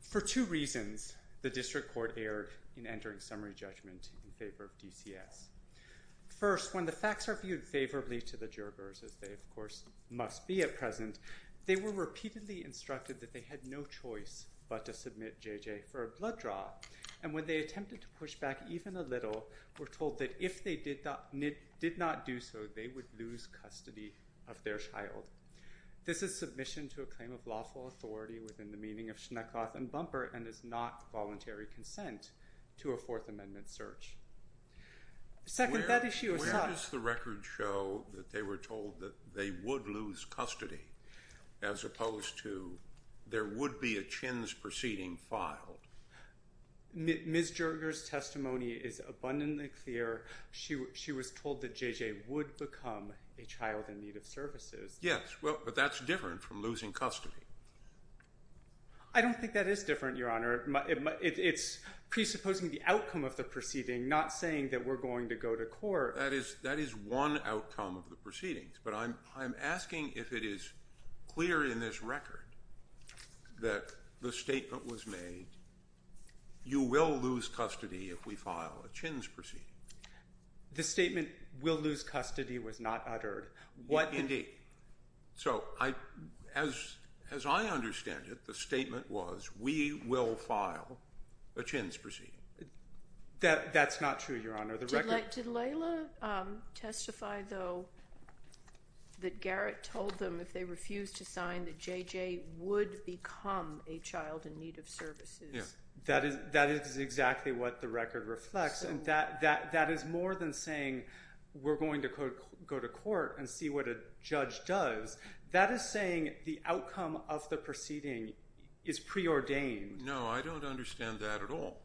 For two reasons, the district court erred in entering summary judgment in favor of DCS. First, when the facts are viewed favorably to the Jergers, as they of course must be at present, they were repeatedly instructed that they had no choice but to submit J.J. for a blood draw, and when they attempted to push back even a little, were told that if they did not do so, they would lose custody of their child. This is submission to a claim of lawful authority within the meaning of Shnuckoth and Bumper and is not voluntary consent to a Fourth Amendment search. Second, that issue was sought- Where does the record show that they were told that they would lose custody as opposed to there would be a Chins proceeding filed? Ms. Jerger's testimony is abundantly clear. She was told that J.J. would become a child in need of services. Yes, but that's different from losing custody. I don't think that is different, Your Honor. It's presupposing the outcome of the proceeding, not saying that we're going to go to court. That is one outcome of the proceedings, but I'm asking if it is clear in this record that the statement was made, you will lose custody if we file a Chins proceeding. The statement, we'll lose custody, was not uttered. Indeed. So, as I understand it, the statement was, we will file a Chins proceeding. That's not true, Your Honor. Did Layla testify, though, that Garrett told them if they refused to sign, that J.J. would become a child in need of services? That is exactly what the record reflects, and that is more than saying, we're going to go to court and see what a judge does. That is saying the outcome of the proceeding is preordained. No, I don't understand that at all.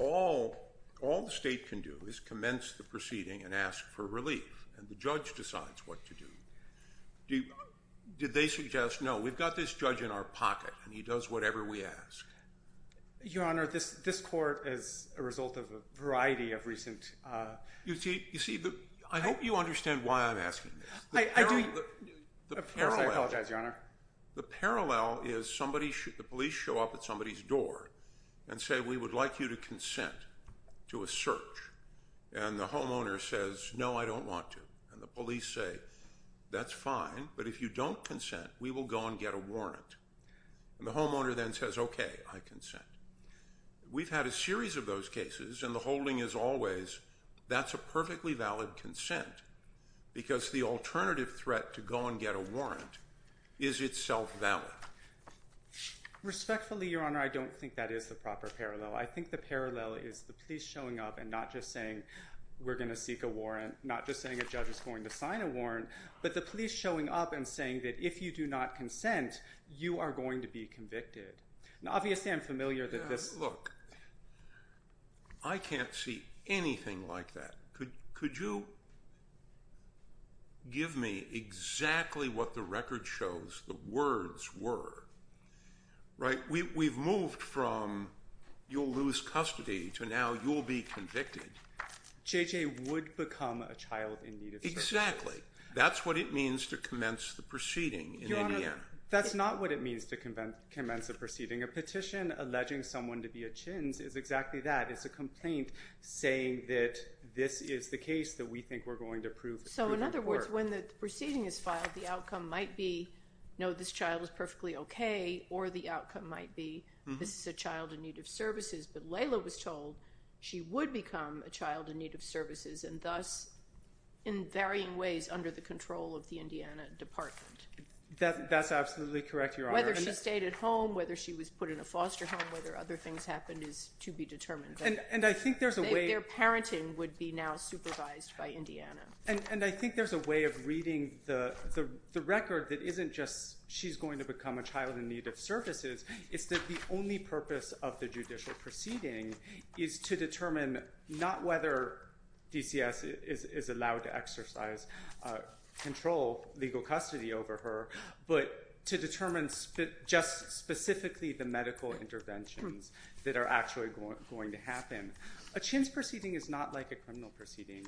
All the state can do is commence the proceeding and ask for relief, and the judge decides what to do. Did they suggest, no, we've got this judge in our pocket, and he does whatever we ask? Your Honor, this court is a result of a variety of recent— You see, I hope you understand why I'm asking this. I do. Of course, I apologize, Your Honor. The parallel is, the police show up at somebody's door and say, we would like you to consent to a search, and the homeowner says, no, I don't want to, and the police say, that's fine, but if you don't consent, we will go and get a warrant. The homeowner then says, okay, I consent. We've had a series of those cases, and the holding is always, that's a perfectly valid consent, because the alternative threat to go and get a warrant is itself valid. Respectfully, Your Honor, I don't think that is the proper parallel. I think the parallel is the police showing up and not just saying, we're going to seek a warrant, not just saying a judge is going to sign a warrant, but the police showing up and saying that if you do not consent, you are going to be convicted. Now, obviously, I'm familiar that this— Look, I can't see anything like that. Could you give me exactly what the record shows the words were? Right? We've moved from, you'll lose custody, to now you'll be convicted. J.J. would become a child in need of service. Exactly. That's what it means to commence the proceeding in Indiana. Your Honor, that's not what it means to commence the proceeding. A petition alleging someone to be a Chinz is exactly that. It's a complaint saying that this is the case that we think we're going to prove. So in other words, when the proceeding is filed, the outcome might be, no, this child is perfectly okay, or the outcome might be, this is a child in need of services, but Layla was told she would become a child in need of services, and thus, in varying ways, under the control of the Indiana Department. That's absolutely correct, Your Honor. Whether she stayed at home, whether she was put in a foster home, whether other things happened is to be determined. And I think there's a way- Their parenting would be now supervised by Indiana. And I think there's a way of reading the record that isn't just, she's going to become a child in need of services, it's that the only purpose of the judicial proceeding is to determine not whether DCS is allowed to exercise control, legal custody over her, but to determine just specifically the medical interventions that are actually going to happen. A chintz proceeding is not like a criminal proceeding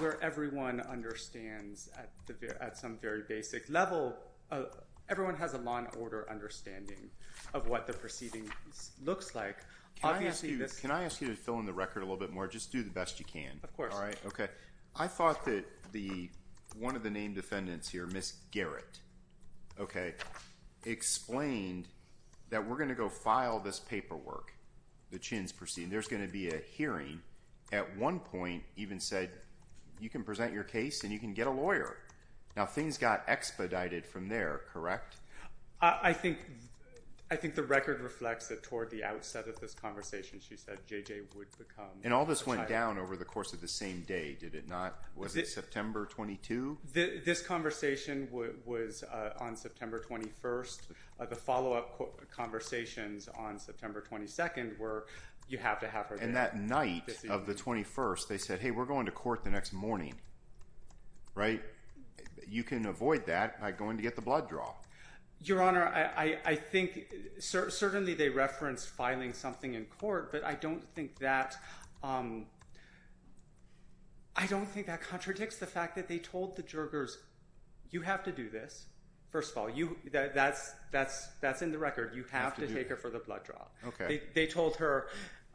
where everyone understands at some very basic level, everyone has a law and order understanding of what the proceeding looks like. Obviously this- Can I ask you to fill in the record a little bit more? Just do the best you can. Of course. All right? Okay. I thought that one of the named defendants here, Ms. Garrett, okay, explained that we're going to go file this paperwork, the chintz proceeding. There's going to be a hearing. At one point even said, you can present your case and you can get a lawyer. Now things got expedited from there, correct? I think the record reflects that toward the outset of this conversation she said JJ would become a child. And all this went down over the course of the same day, did it not? Was it September 22? This conversation was on September 21st. The follow-up conversations on September 22nd were you have to have her there. And that night of the 21st they said, hey, we're going to court the next morning, right? You can avoid that by going to get the blood draw. Your Honor, I think certainly they referenced filing something in court, but I don't think that contradicts the fact that they told the Jurgers, you have to do this. First of all, that's in the record. You have to take her for the blood draw. They told her,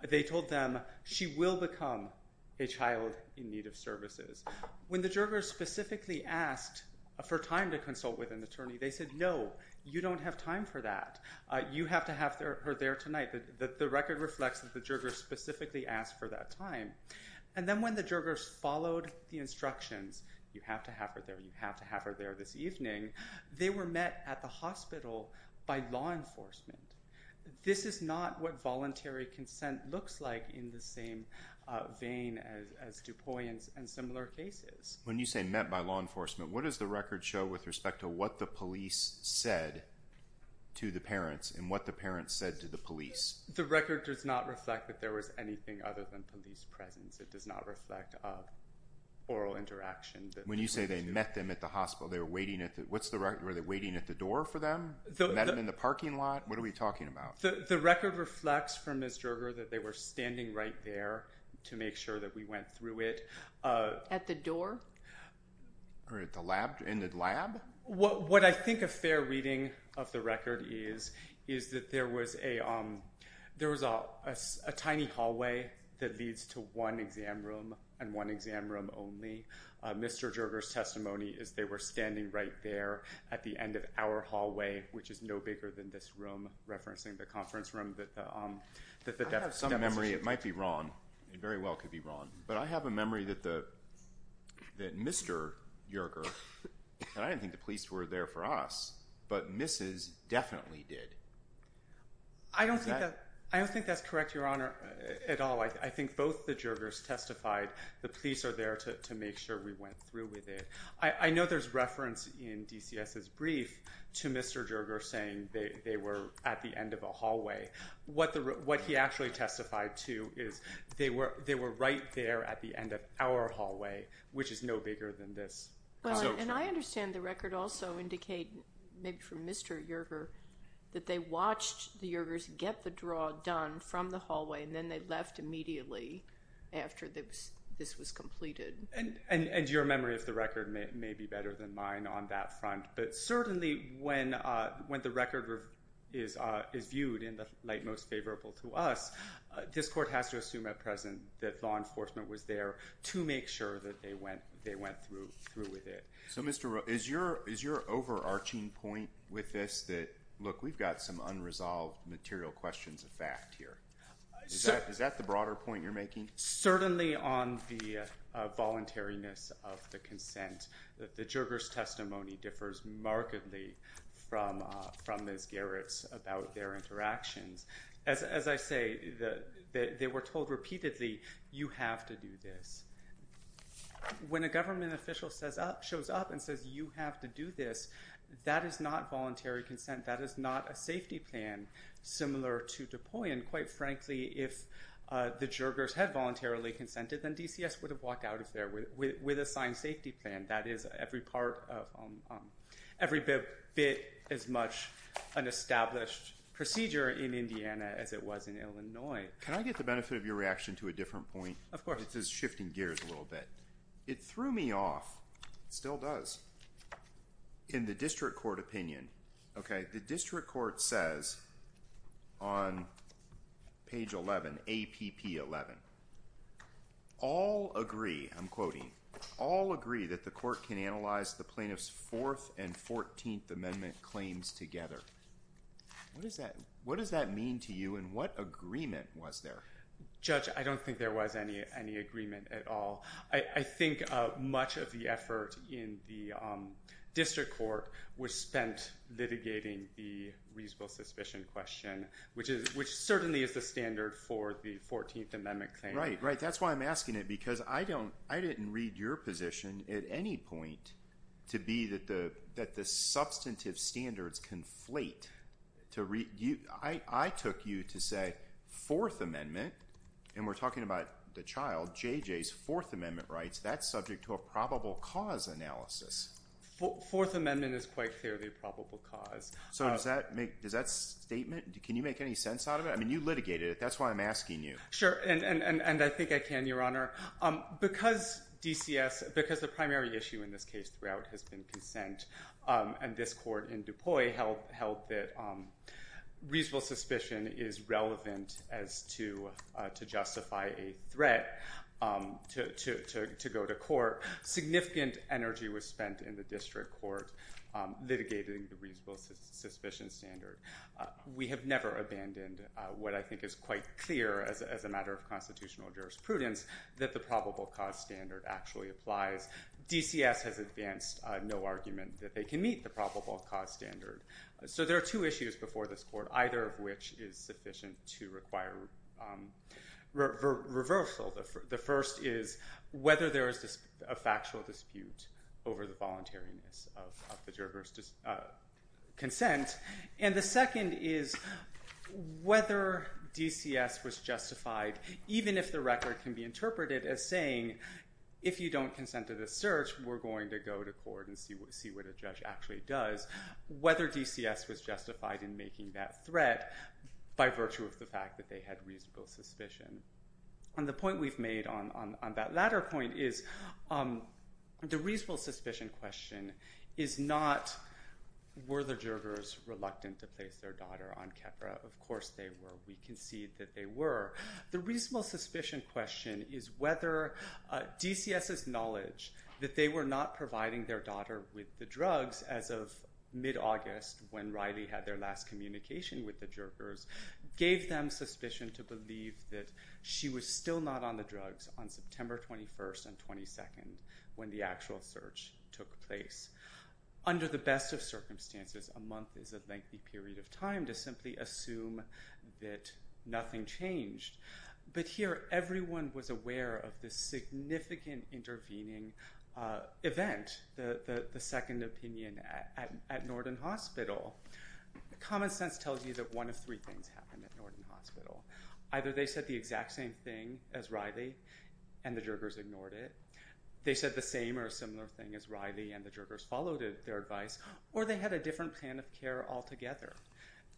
they told them she will become a child in need of services. When the Jurgers specifically asked for time to consult with an attorney, they said no, you don't have time for that. You have to have her there tonight. The record reflects that the Jurgers specifically asked for that time. And then when the Jurgers followed the instructions, you have to have her there, you have to have her there this evening, they were met at the hospital by law enforcement. This is not what voluntary consent looks like in the same vein as DuPois and similar cases. When you say met by law enforcement, what does the record show with respect to what the police said to the parents and what the parents said to the police? The record does not reflect that there was anything other than police presence. It does not reflect oral interaction. When you say they met them at the hospital, they were waiting at the, what's the record, were they waiting at the door for them? Met them in the parking lot? What are we talking about? The record reflects from Ms. Jurger that they were standing right there to make sure that we went through it. At the door? Or at the lab, in the lab? What I think a fair reading of the record is, is that there was a, there was a tiny hallway that leads to one exam room and one exam room only. Mr. Jurger's testimony is they were standing right there at the end of our hallway, which is no bigger than this room, referencing the conference room that, um, that, that some memory, it might be wrong and very well could be wrong, but I have a memory that the, that Mr. Jurger, and I didn't think the police were there for us, but Mrs. definitely did. I don't think that, I don't think that's correct, Your Honor, at all. I think both the Jurgers testified the police are there to, to make sure we went through with it. I, I know there's reference in DCS's brief to Mr. Jurger saying they, they were at the end of a hallway. What the, what he actually testified to is they were, they were right there at the end of our hallway, which is no bigger than this conference room. And I understand the record also indicate, maybe from Mr. Jurger, that they watched the Jurgers get the draw done from the hallway and then they left immediately after this, this was completed. And, and, and your memory of the record may, may be better than mine on that front. But certainly when, when the record is, is viewed in the light most favorable to us, this court has to assume at present that law enforcement was there to make sure that they went, they went through, through with it. So Mr. Roe, is your, is your overarching point with this that, look, we've got some unresolved material questions of fact here. Is that, is that the broader point you're making? Certainly on the voluntariness of the consent, that the Jurgers' testimony differs markedly from, from Ms. Garrett's about their interactions. As I say, the, they were told repeatedly, you have to do this. When a government official says up, shows up and says you have to do this, that is not voluntary consent. That is not a safety plan similar to DuPuy. And quite frankly, if the Jurgers had voluntarily consented, then DCS would have walked out of there with, with, with a signed safety plan. That is every part of, every bit, bit as much an established procedure in Indiana as it was in Illinois. Can I get the benefit of your reaction to a different point? Of course. It's just shifting gears a little bit. It threw me off, still does, in the district court opinion, okay? The district court says on page 11, APP 11, all agree, I'm quoting, all agree that the court can analyze the plaintiff's 4th and 14th amendment claims together. What does that, what does that mean to you and what agreement was there? Judge, I don't think there was any, any agreement at all. I, I think much of the effort in the district court was spent litigating the reasonable suspicion question, which is, which certainly is the standard for the 14th amendment claim. Right, right. That's why I'm asking it because I don't, I didn't read your position at any point to be that the, that the substantive standards conflate to read, you, I, I took you to say that the 4th amendment, and we're talking about the child, JJ's 4th amendment rights, that's subject to a probable cause analysis. 4th amendment is quite clearly a probable cause. So does that make, does that statement, can you make any sense out of it? I mean, you litigated it. That's why I'm asking you. Sure. And, and, and, and I think I can, your honor, because DCS, because the primary issue in this case throughout has been consent and this court in DuPuy held, held that reasonable suspicion is relevant as to, to justify a threat to, to, to, to go to court, significant energy was spent in the district court litigating the reasonable suspicion standard. We have never abandoned what I think is quite clear as, as a matter of constitutional jurisprudence that the probable cause standard actually applies. DCS has advanced no argument that they can meet the probable cause standard. So there are two issues before this court, either of which is sufficient to require reversal. The first is whether there is a factual dispute over the voluntariness of the jurors' consent. And the second is whether DCS was justified, even if the record can be interpreted as saying, if you don't consent to this search, we're going to go to court and see what, see what a judge actually does. Whether DCS was justified in making that threat by virtue of the fact that they had reasonable suspicion. And the point we've made on, on, on that latter point is the reasonable suspicion question is not, were the jurors reluctant to place their daughter on Keppra? Of course they were. We concede that they were. The reasonable suspicion question is whether DCS's knowledge that they were not providing their daughter with the drugs as of mid-August, when Riley had their last communication with the jurors, gave them suspicion to believe that she was still not on the drugs on September 21st and 22nd, when the actual search took place. Under the best of circumstances, a month is a lengthy period of time to simply assume that nothing changed. But here, everyone was aware of this significant intervening event, the second opinion at Norton Hospital. Common sense tells you that one of three things happened at Norton Hospital. Either they said the exact same thing as Riley and the jurors ignored it, they said the same or similar thing as Riley and the jurors followed their advice, or they had a different plan of care altogether.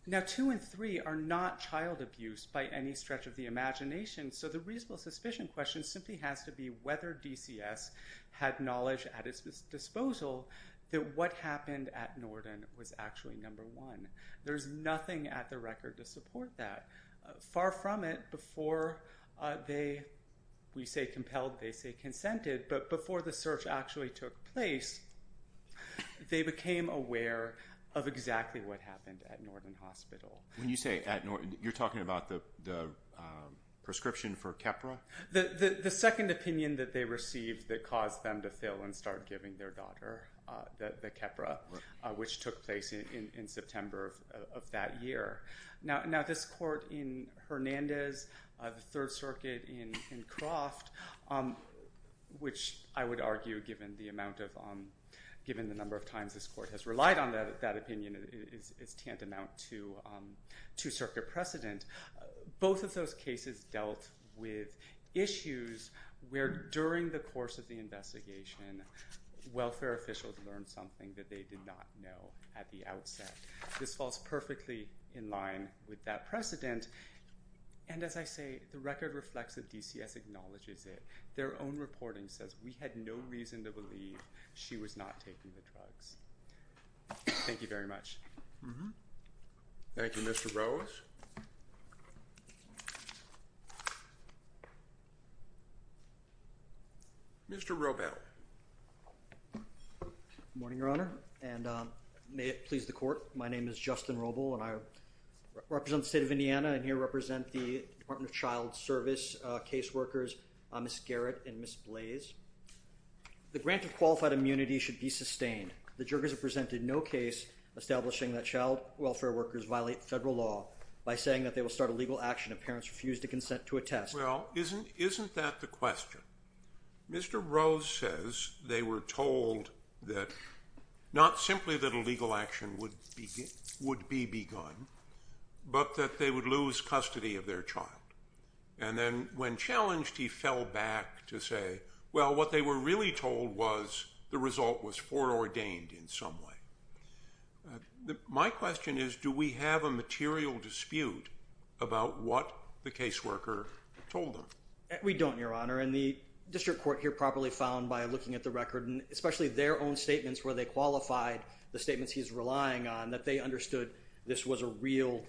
Now, two and three are not child abuse by any stretch of the imagination, so the reasonable suspicion question simply has to be whether DCS had knowledge at its disposal that what happened at Norton was actually number one. There's nothing at the record to support that. Far from it, before they, we say compelled, they say consented, but before the search actually took place, they became aware of exactly what happened at Norton Hospital. When you say at Norton, you're talking about the prescription for Keppra? The second opinion that they received that caused them to fail and start giving their daughter the Keppra, which took place in September of that year. Now, this court in Hernandez, the Third Circuit in Croft, which I would argue, given the number of times this court has relied on that opinion, is tantamount to circuit precedent. Both of those cases dealt with issues where during the course of the investigation, welfare officials learned something that they did not know at the outset. This falls perfectly in line with that precedent, and as I say, the record reflects that DCS acknowledges it. Their own reporting says we had no reason to believe she was not taking the drugs. Thank you very much. Thank you. Mr. Rose? Mr. Robel. Good morning, Your Honor, and may it please the court, my name is Justin Robel, and I represent the state of Indiana, and here I represent the Department of Child Service caseworkers, Ms. Garrett and Ms. Blaise. The grant of qualified immunity should be sustained. The jurors have presented no case establishing that child welfare workers violate federal law by saying that they will start a legal action if parents refuse to consent to a test. Well, isn't that the question? Mr. Rose says they were told that not simply that a legal action would be begun, but that they would lose custody of their child, and then when challenged, he fell back to say, well, what they were really told was the result was foreordained in some way. My question is, do we have a material dispute about what the caseworker told them? We don't, Your Honor, and the district court here properly found by looking at the record, and especially their own statements where they qualified the statements he's relying on, that they understood this was a real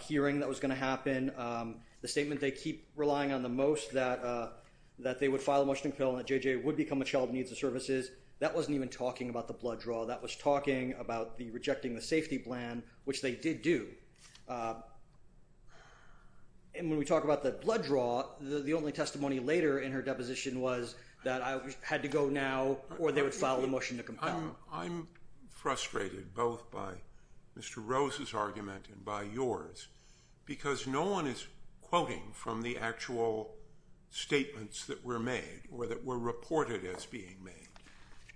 hearing that was going to happen. The statement they keep relying on the most, that they would file a motion to kill and that JJ would become a child who needs the services, that wasn't even talking about the blood draw. That was talking about the rejecting the safety plan, which they did do, and when we talk about the blood draw, the only testimony later in her deposition was that I had to go now or they would file a motion to compel. I'm frustrated both by Mr. Rose's argument and by yours, because no one is quoting from the actual statements that were made or that were reported as being made.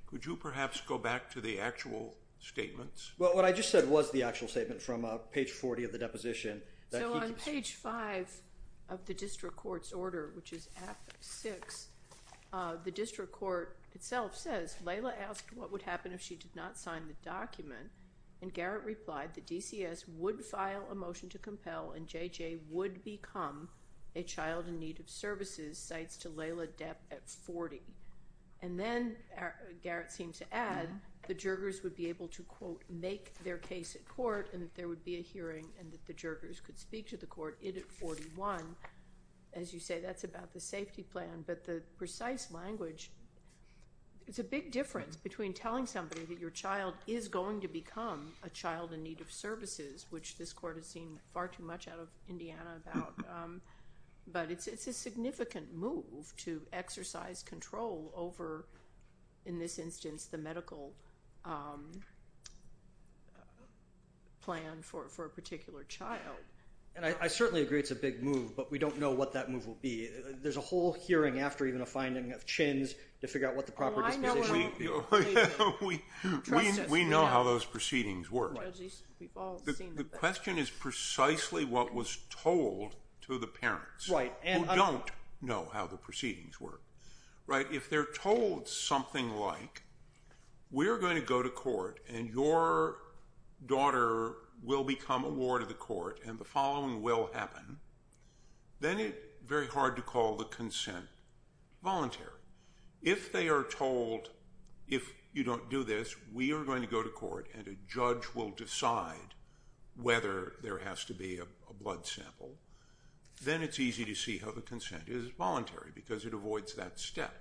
Could you perhaps go back to the actual statements? Well, what I just said was the actual statement from page 40 of the deposition. So on page 5 of the district court's order, which is at 6, the district court itself says, Layla asked what would happen if she did not sign the document, and Garrett replied that DCS would file a motion to compel and JJ would become a child in need of services, cites to Layla Depp at 40. And then Garrett seemed to add, the Jurgers would be able to, quote, make their case at Jurgers could speak to the court at 41. As you say, that's about the safety plan. But the precise language, it's a big difference between telling somebody that your child is going to become a child in need of services, which this court has seen far too much out of Indiana about, but it's a significant move to exercise control over, in this instance, the medical plan for a particular child. And I certainly agree it's a big move, but we don't know what that move will be. There's a whole hearing after even a finding of Chins to figure out what the proper disposition would be. We know how those proceedings work. The question is precisely what was told to the parents who don't know how the proceedings work, right? If they're told something like, we're going to go to court and your daughter will become a ward of the court and the following will happen, then it's very hard to call the consent voluntary. If they are told, if you don't do this, we are going to go to court and a judge will decide whether there has to be a blood sample, then it's easy to see how the consent is voluntary because it avoids that step.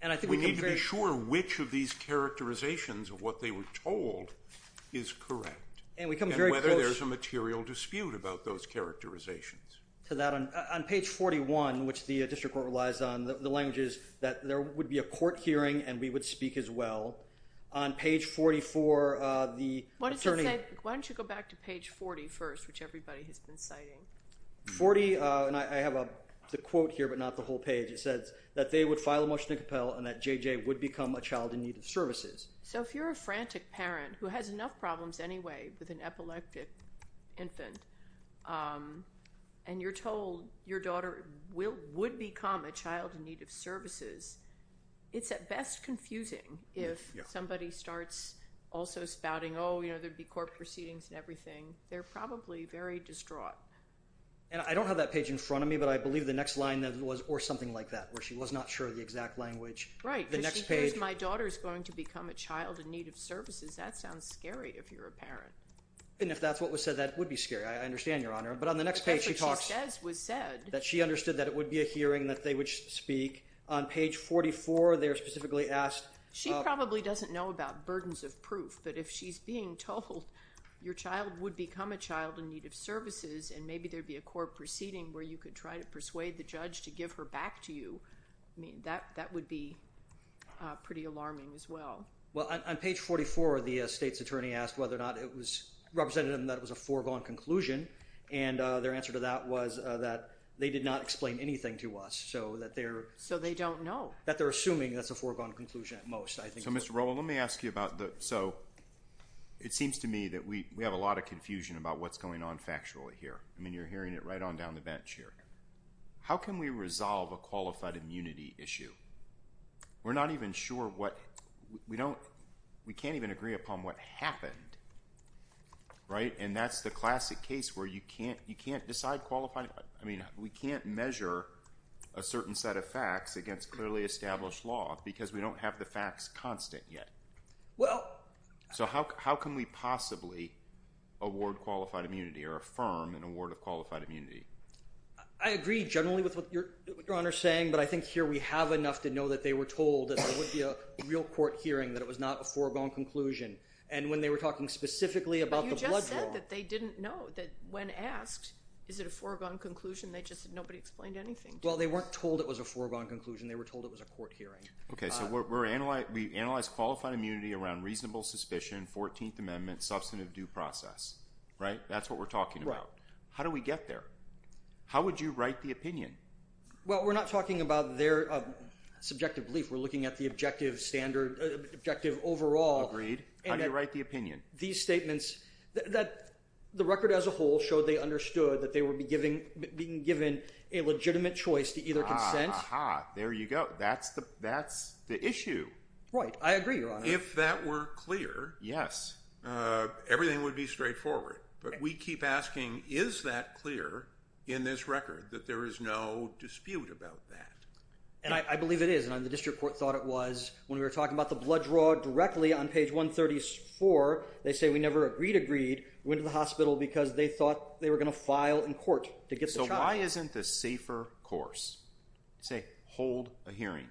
And I think we need to be sure which of these characterizations of what they were told is correct, and whether there's a material dispute about those characterizations. To that, on page 41, which the district court relies on, the language is that there would be a court hearing and we would speak as well. On page 44, the attorney- Why don't you go back to page 40 first, which everybody has been citing. 40, and I have the quote here, but not the whole page. It says that they would file a motion to compel and that JJ would become a child in need of services. So if you're a frantic parent who has enough problems anyway with an epileptic infant, and you're told your daughter would become a child in need of services, it's at best confusing if somebody starts also spouting, oh, there'd be court proceedings and everything. They're probably very distraught. And I don't have that page in front of me, but I believe the next line was, or something like that, where she was not sure of the exact language. Right. The next page- My daughter's going to become a child in need of services. That sounds scary if you're a parent. And if that's what was said, that would be scary. I understand, Your Honor. But on the next page, she talks- That's what she says was said. That she understood that it would be a hearing, that they would speak. On page 44, they're specifically asked- She probably doesn't know about burdens of proof, but if she's being told your child would become a child in need of services, and maybe there'd be a court proceeding where you could try to persuade the judge to give her back to you, that would be pretty alarming as well. Well, on page 44, the state's attorney asked whether or not it represented them that it was a foregone conclusion, and their answer to that was that they did not explain anything to us, so that they're- So they don't know. That they're assuming that's a foregone conclusion at most, I think. So, Mr. Rowland, let me ask you about the- So, it seems to me that we have a lot of confusion about what's going on factually here. I mean, you're hearing it right on down the bench here. How can we resolve a qualified immunity issue? We're not even sure what- We don't- We can't even agree upon what happened, right? And that's the classic case where you can't decide qualified- I mean, we can't measure a certain set of facts against clearly established law because we don't have the facts constant yet. Well- So how can we possibly award qualified immunity or affirm an award of qualified immunity? I agree generally with what Your Honor's saying, but I think here we have enough to know that they were told that there would be a real court hearing, that it was not a foregone conclusion. And when they were talking specifically about the blood draw- But you just said that they didn't know that when asked, is it a foregone conclusion? They just said nobody explained anything to them. Well, they weren't told it was a foregone conclusion. They were told it was a court hearing. Okay, so we analyze qualified immunity around reasonable suspicion, 14th Amendment, substantive due process, right? That's what we're talking about. How do we get there? How would you write the opinion? Well, we're not talking about their subjective belief. We're looking at the objective standard- objective overall. Agreed. How do you write the opinion? These statements- The record as a whole showed they understood that they would be giving- being given a legitimate choice to either consent- There you go. That's the issue. I agree, Your Honor. If that were clear- Yes. Everything would be straightforward. But we keep asking, is that clear in this record, that there is no dispute about that? And I believe it is. And the district court thought it was. When we were talking about the blood draw directly on page 134, they say we never agreed agreed. We went to the hospital because they thought they were going to file in court to get the child. So why isn't the safer course? Say, hold a hearing.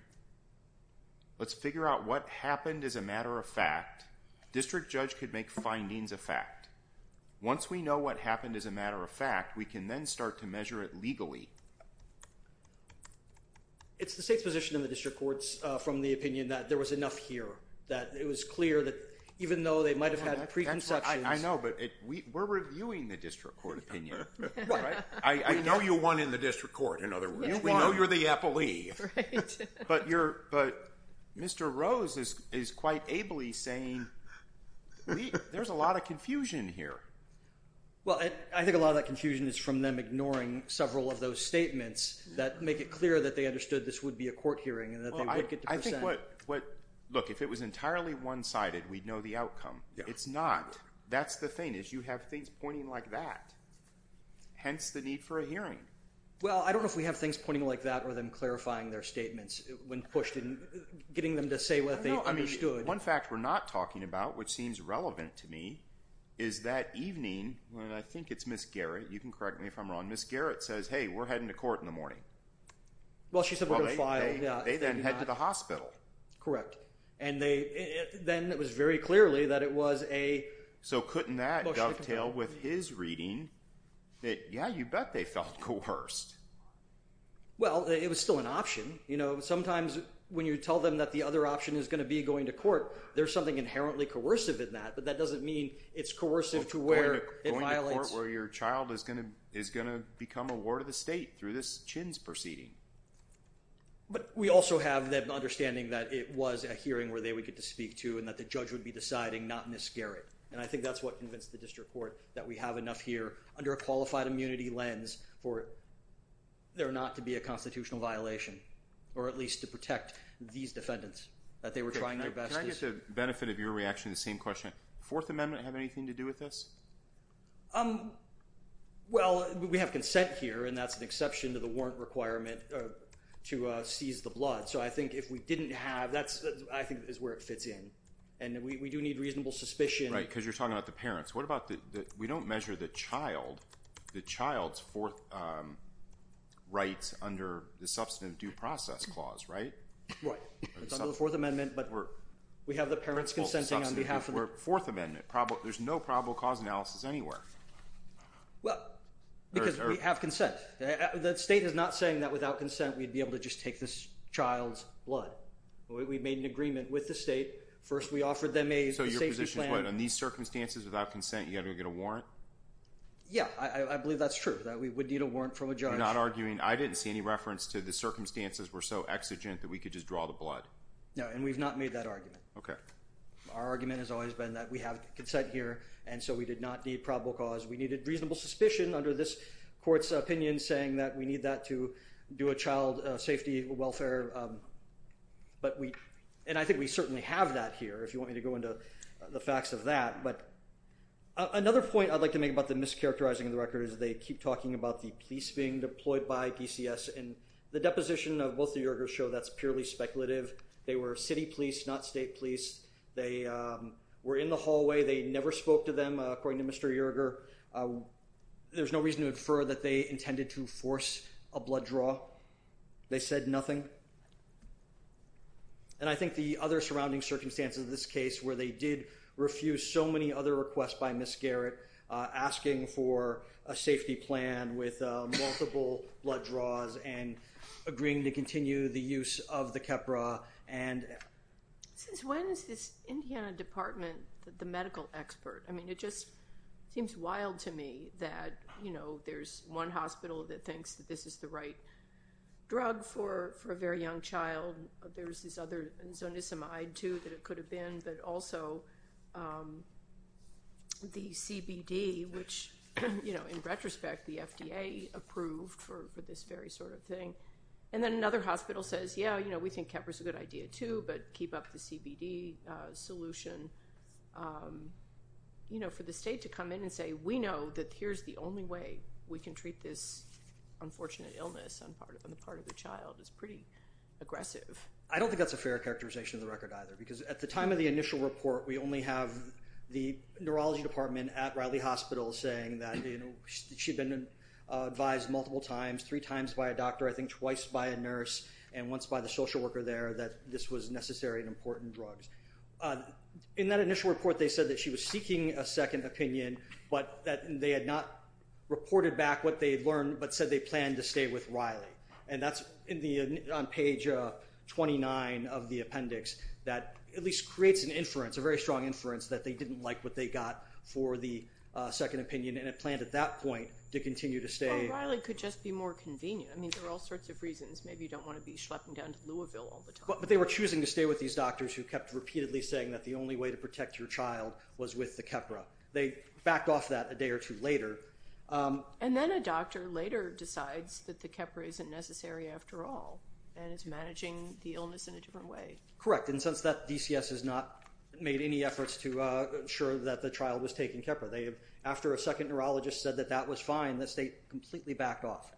Let's figure out what happened as a matter of fact. District judge could make findings of fact. Once we know what happened as a matter of fact, we can then start to measure it legally. It's the state's position in the district courts from the opinion that there was enough here. That it was clear that even though they might have had preconceptions- I know, but we're reviewing the district court opinion, right? I know you won in the district court, in other words. We know you're the appellee. But Mr. Rose is quite ably saying, there's a lot of confusion here. Well, I think a lot of that confusion is from them ignoring several of those statements that make it clear that they understood this would be a court hearing and that they would get to present- I think what- look, if it was entirely one-sided, we'd know the outcome. It's not. That's the thing, is you have things pointing like that. Hence, the need for a hearing. Well, I don't know if we have things pointing like that or them clarifying their statements when pushed and getting them to say what they understood. One fact we're not talking about, which seems relevant to me, is that evening, when I think it's Ms. Garrett, you can correct me if I'm wrong. Ms. Garrett says, hey, we're heading to court in the morning. Well, she said we're going to file, yeah. They then head to the hospital. Correct. And then it was very clearly that it was a- So couldn't that dovetail with his reading that, yeah, you bet they felt coerced. Well, it was still an option. Sometimes when you tell them that the other option is going to be going to court, there's something inherently coercive in that. But that doesn't mean it's coercive to where it violates- Going to court where your child is going to become a ward of the state through this Chins proceeding. But we also have them understanding that it was a hearing where they would get to speak to and that the judge would be deciding, not Ms. Garrett. And I think that's what convinced the district court that we have enough here under a qualified immunity lens for there not to be a constitutional violation, or at least to protect these defendants, that they were trying their best- Can I get the benefit of your reaction to the same question? Fourth Amendment have anything to do with this? Well, we have consent here, and that's an exception to the warrant requirement to seize the blood. So I think if we didn't have, that's, I think, is where it fits in. We do need reasonable suspicion- Right, because you're talking about the parents. We don't measure the child's fourth rights under the Substantive Due Process Clause, right? Right. It's under the Fourth Amendment, but we have the parents consenting on behalf of- Fourth Amendment, there's no probable cause analysis anywhere. Well, because we have consent. The state is not saying that without consent we'd be able to just take this child's blood. We've made an agreement with the state. First, we offered them a safety plan- So your position is what? In these circumstances, without consent, you're going to get a warrant? Yeah, I believe that's true, that we would need a warrant from a judge. You're not arguing- I didn't see any reference to the circumstances were so exigent that we could just draw the blood. No, and we've not made that argument. Okay. Our argument has always been that we have consent here, and so we did not need probable cause. We needed reasonable suspicion under this court's opinion, saying that we need that to do a child safety welfare. And I think we certainly have that here, if you want me to go into the facts of that. But another point I'd like to make about the mischaracterizing of the record is they keep talking about the police being deployed by DCS, and the deposition of both the Yerger's show that's purely speculative. They were city police, not state police. They were in the hallway. They never spoke to them, according to Mr. Yerger. There's no reason to infer that they intended to force a blood draw. They said nothing. And I think the other surrounding circumstances of this case, where they did refuse so many other requests by Ms. Garrett, asking for a safety plan with multiple blood draws, and agreeing to continue the use of the Keppra. Since when is this Indiana Department the medical expert? I mean, it just seems wild to me that, you know, there's one hospital that thinks that this is the right drug for a very young child. There's this other, Zonisamide too, that it could have been. But also the CBD, which, you know, in retrospect, the FDA approved for this very sort of thing. And then another hospital says, yeah, you know, we think Keppra's a good idea too, but keep up the CBD solution. You know, for the state to come in and say, we know that here's the only way we can treat this unfortunate illness on the part of the child is pretty aggressive. I don't think that's a fair characterization of the record either. Because at the time of the initial report, we only have the neurology department at Riley Hospital saying that, you know, she'd been advised multiple times, three times by a doctor, I think twice by a nurse, and once by the social worker there, that this was necessary and important drugs. In that initial report, they said that she was seeking a second opinion, but that they had not reported back what they had learned, but said they planned to stay with Riley. And that's on page 29 of the appendix that at least creates an inference, a very strong inference that they didn't like what they got for the second opinion. And it planned at that point to continue to stay. Well, Riley could just be more convenient. I mean, there are all sorts of reasons. Maybe you don't want to be schlepping down to Louisville all the time. But they were choosing to stay with these doctors who kept repeatedly saying that the only way to protect your child was with the Keppra. They backed off that a day or two later. And then a doctor later decides that the Keppra isn't necessary after all, and is managing the illness in a different way. Correct. And since that, DCS has not made any efforts to ensure that the child was taking Keppra. They have, after a second neurologist said that that was fine, the state completely backed off.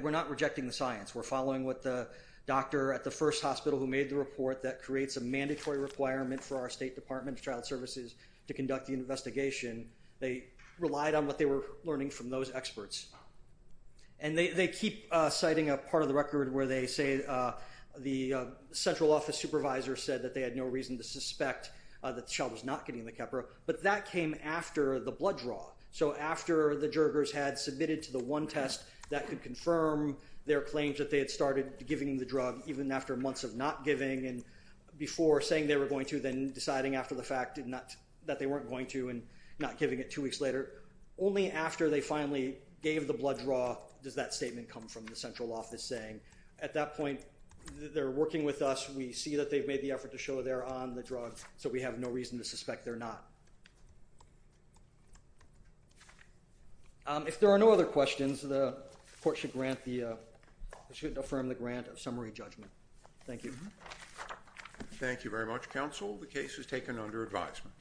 We're not rejecting the science. We're following what the doctor at the first hospital who made the report that creates a mandatory requirement for our State Department of Child Services to conduct the investigation. They relied on what they were learning from those experts. And they keep citing a part of the record where they say the central office supervisor said that they had no reason to suspect that the child was not getting the Keppra. But that came after the blood draw. So after the Jurgers had submitted to the one test that could confirm their claims that they had started giving the drug, even after months of not giving and before saying they were going to, then deciding after the fact that they weren't going to and not giving it two weeks later, only after they finally gave the blood draw does that statement come from the central office saying, at that point, they're working with us. We see that they've made the effort to show they're on the drug, so we have no reason to suspect they're not. If there are no other questions, the court should grant the, it should affirm the grant of summary judgment. Thank you. Thank you very much, counsel. The case is taken under advisement.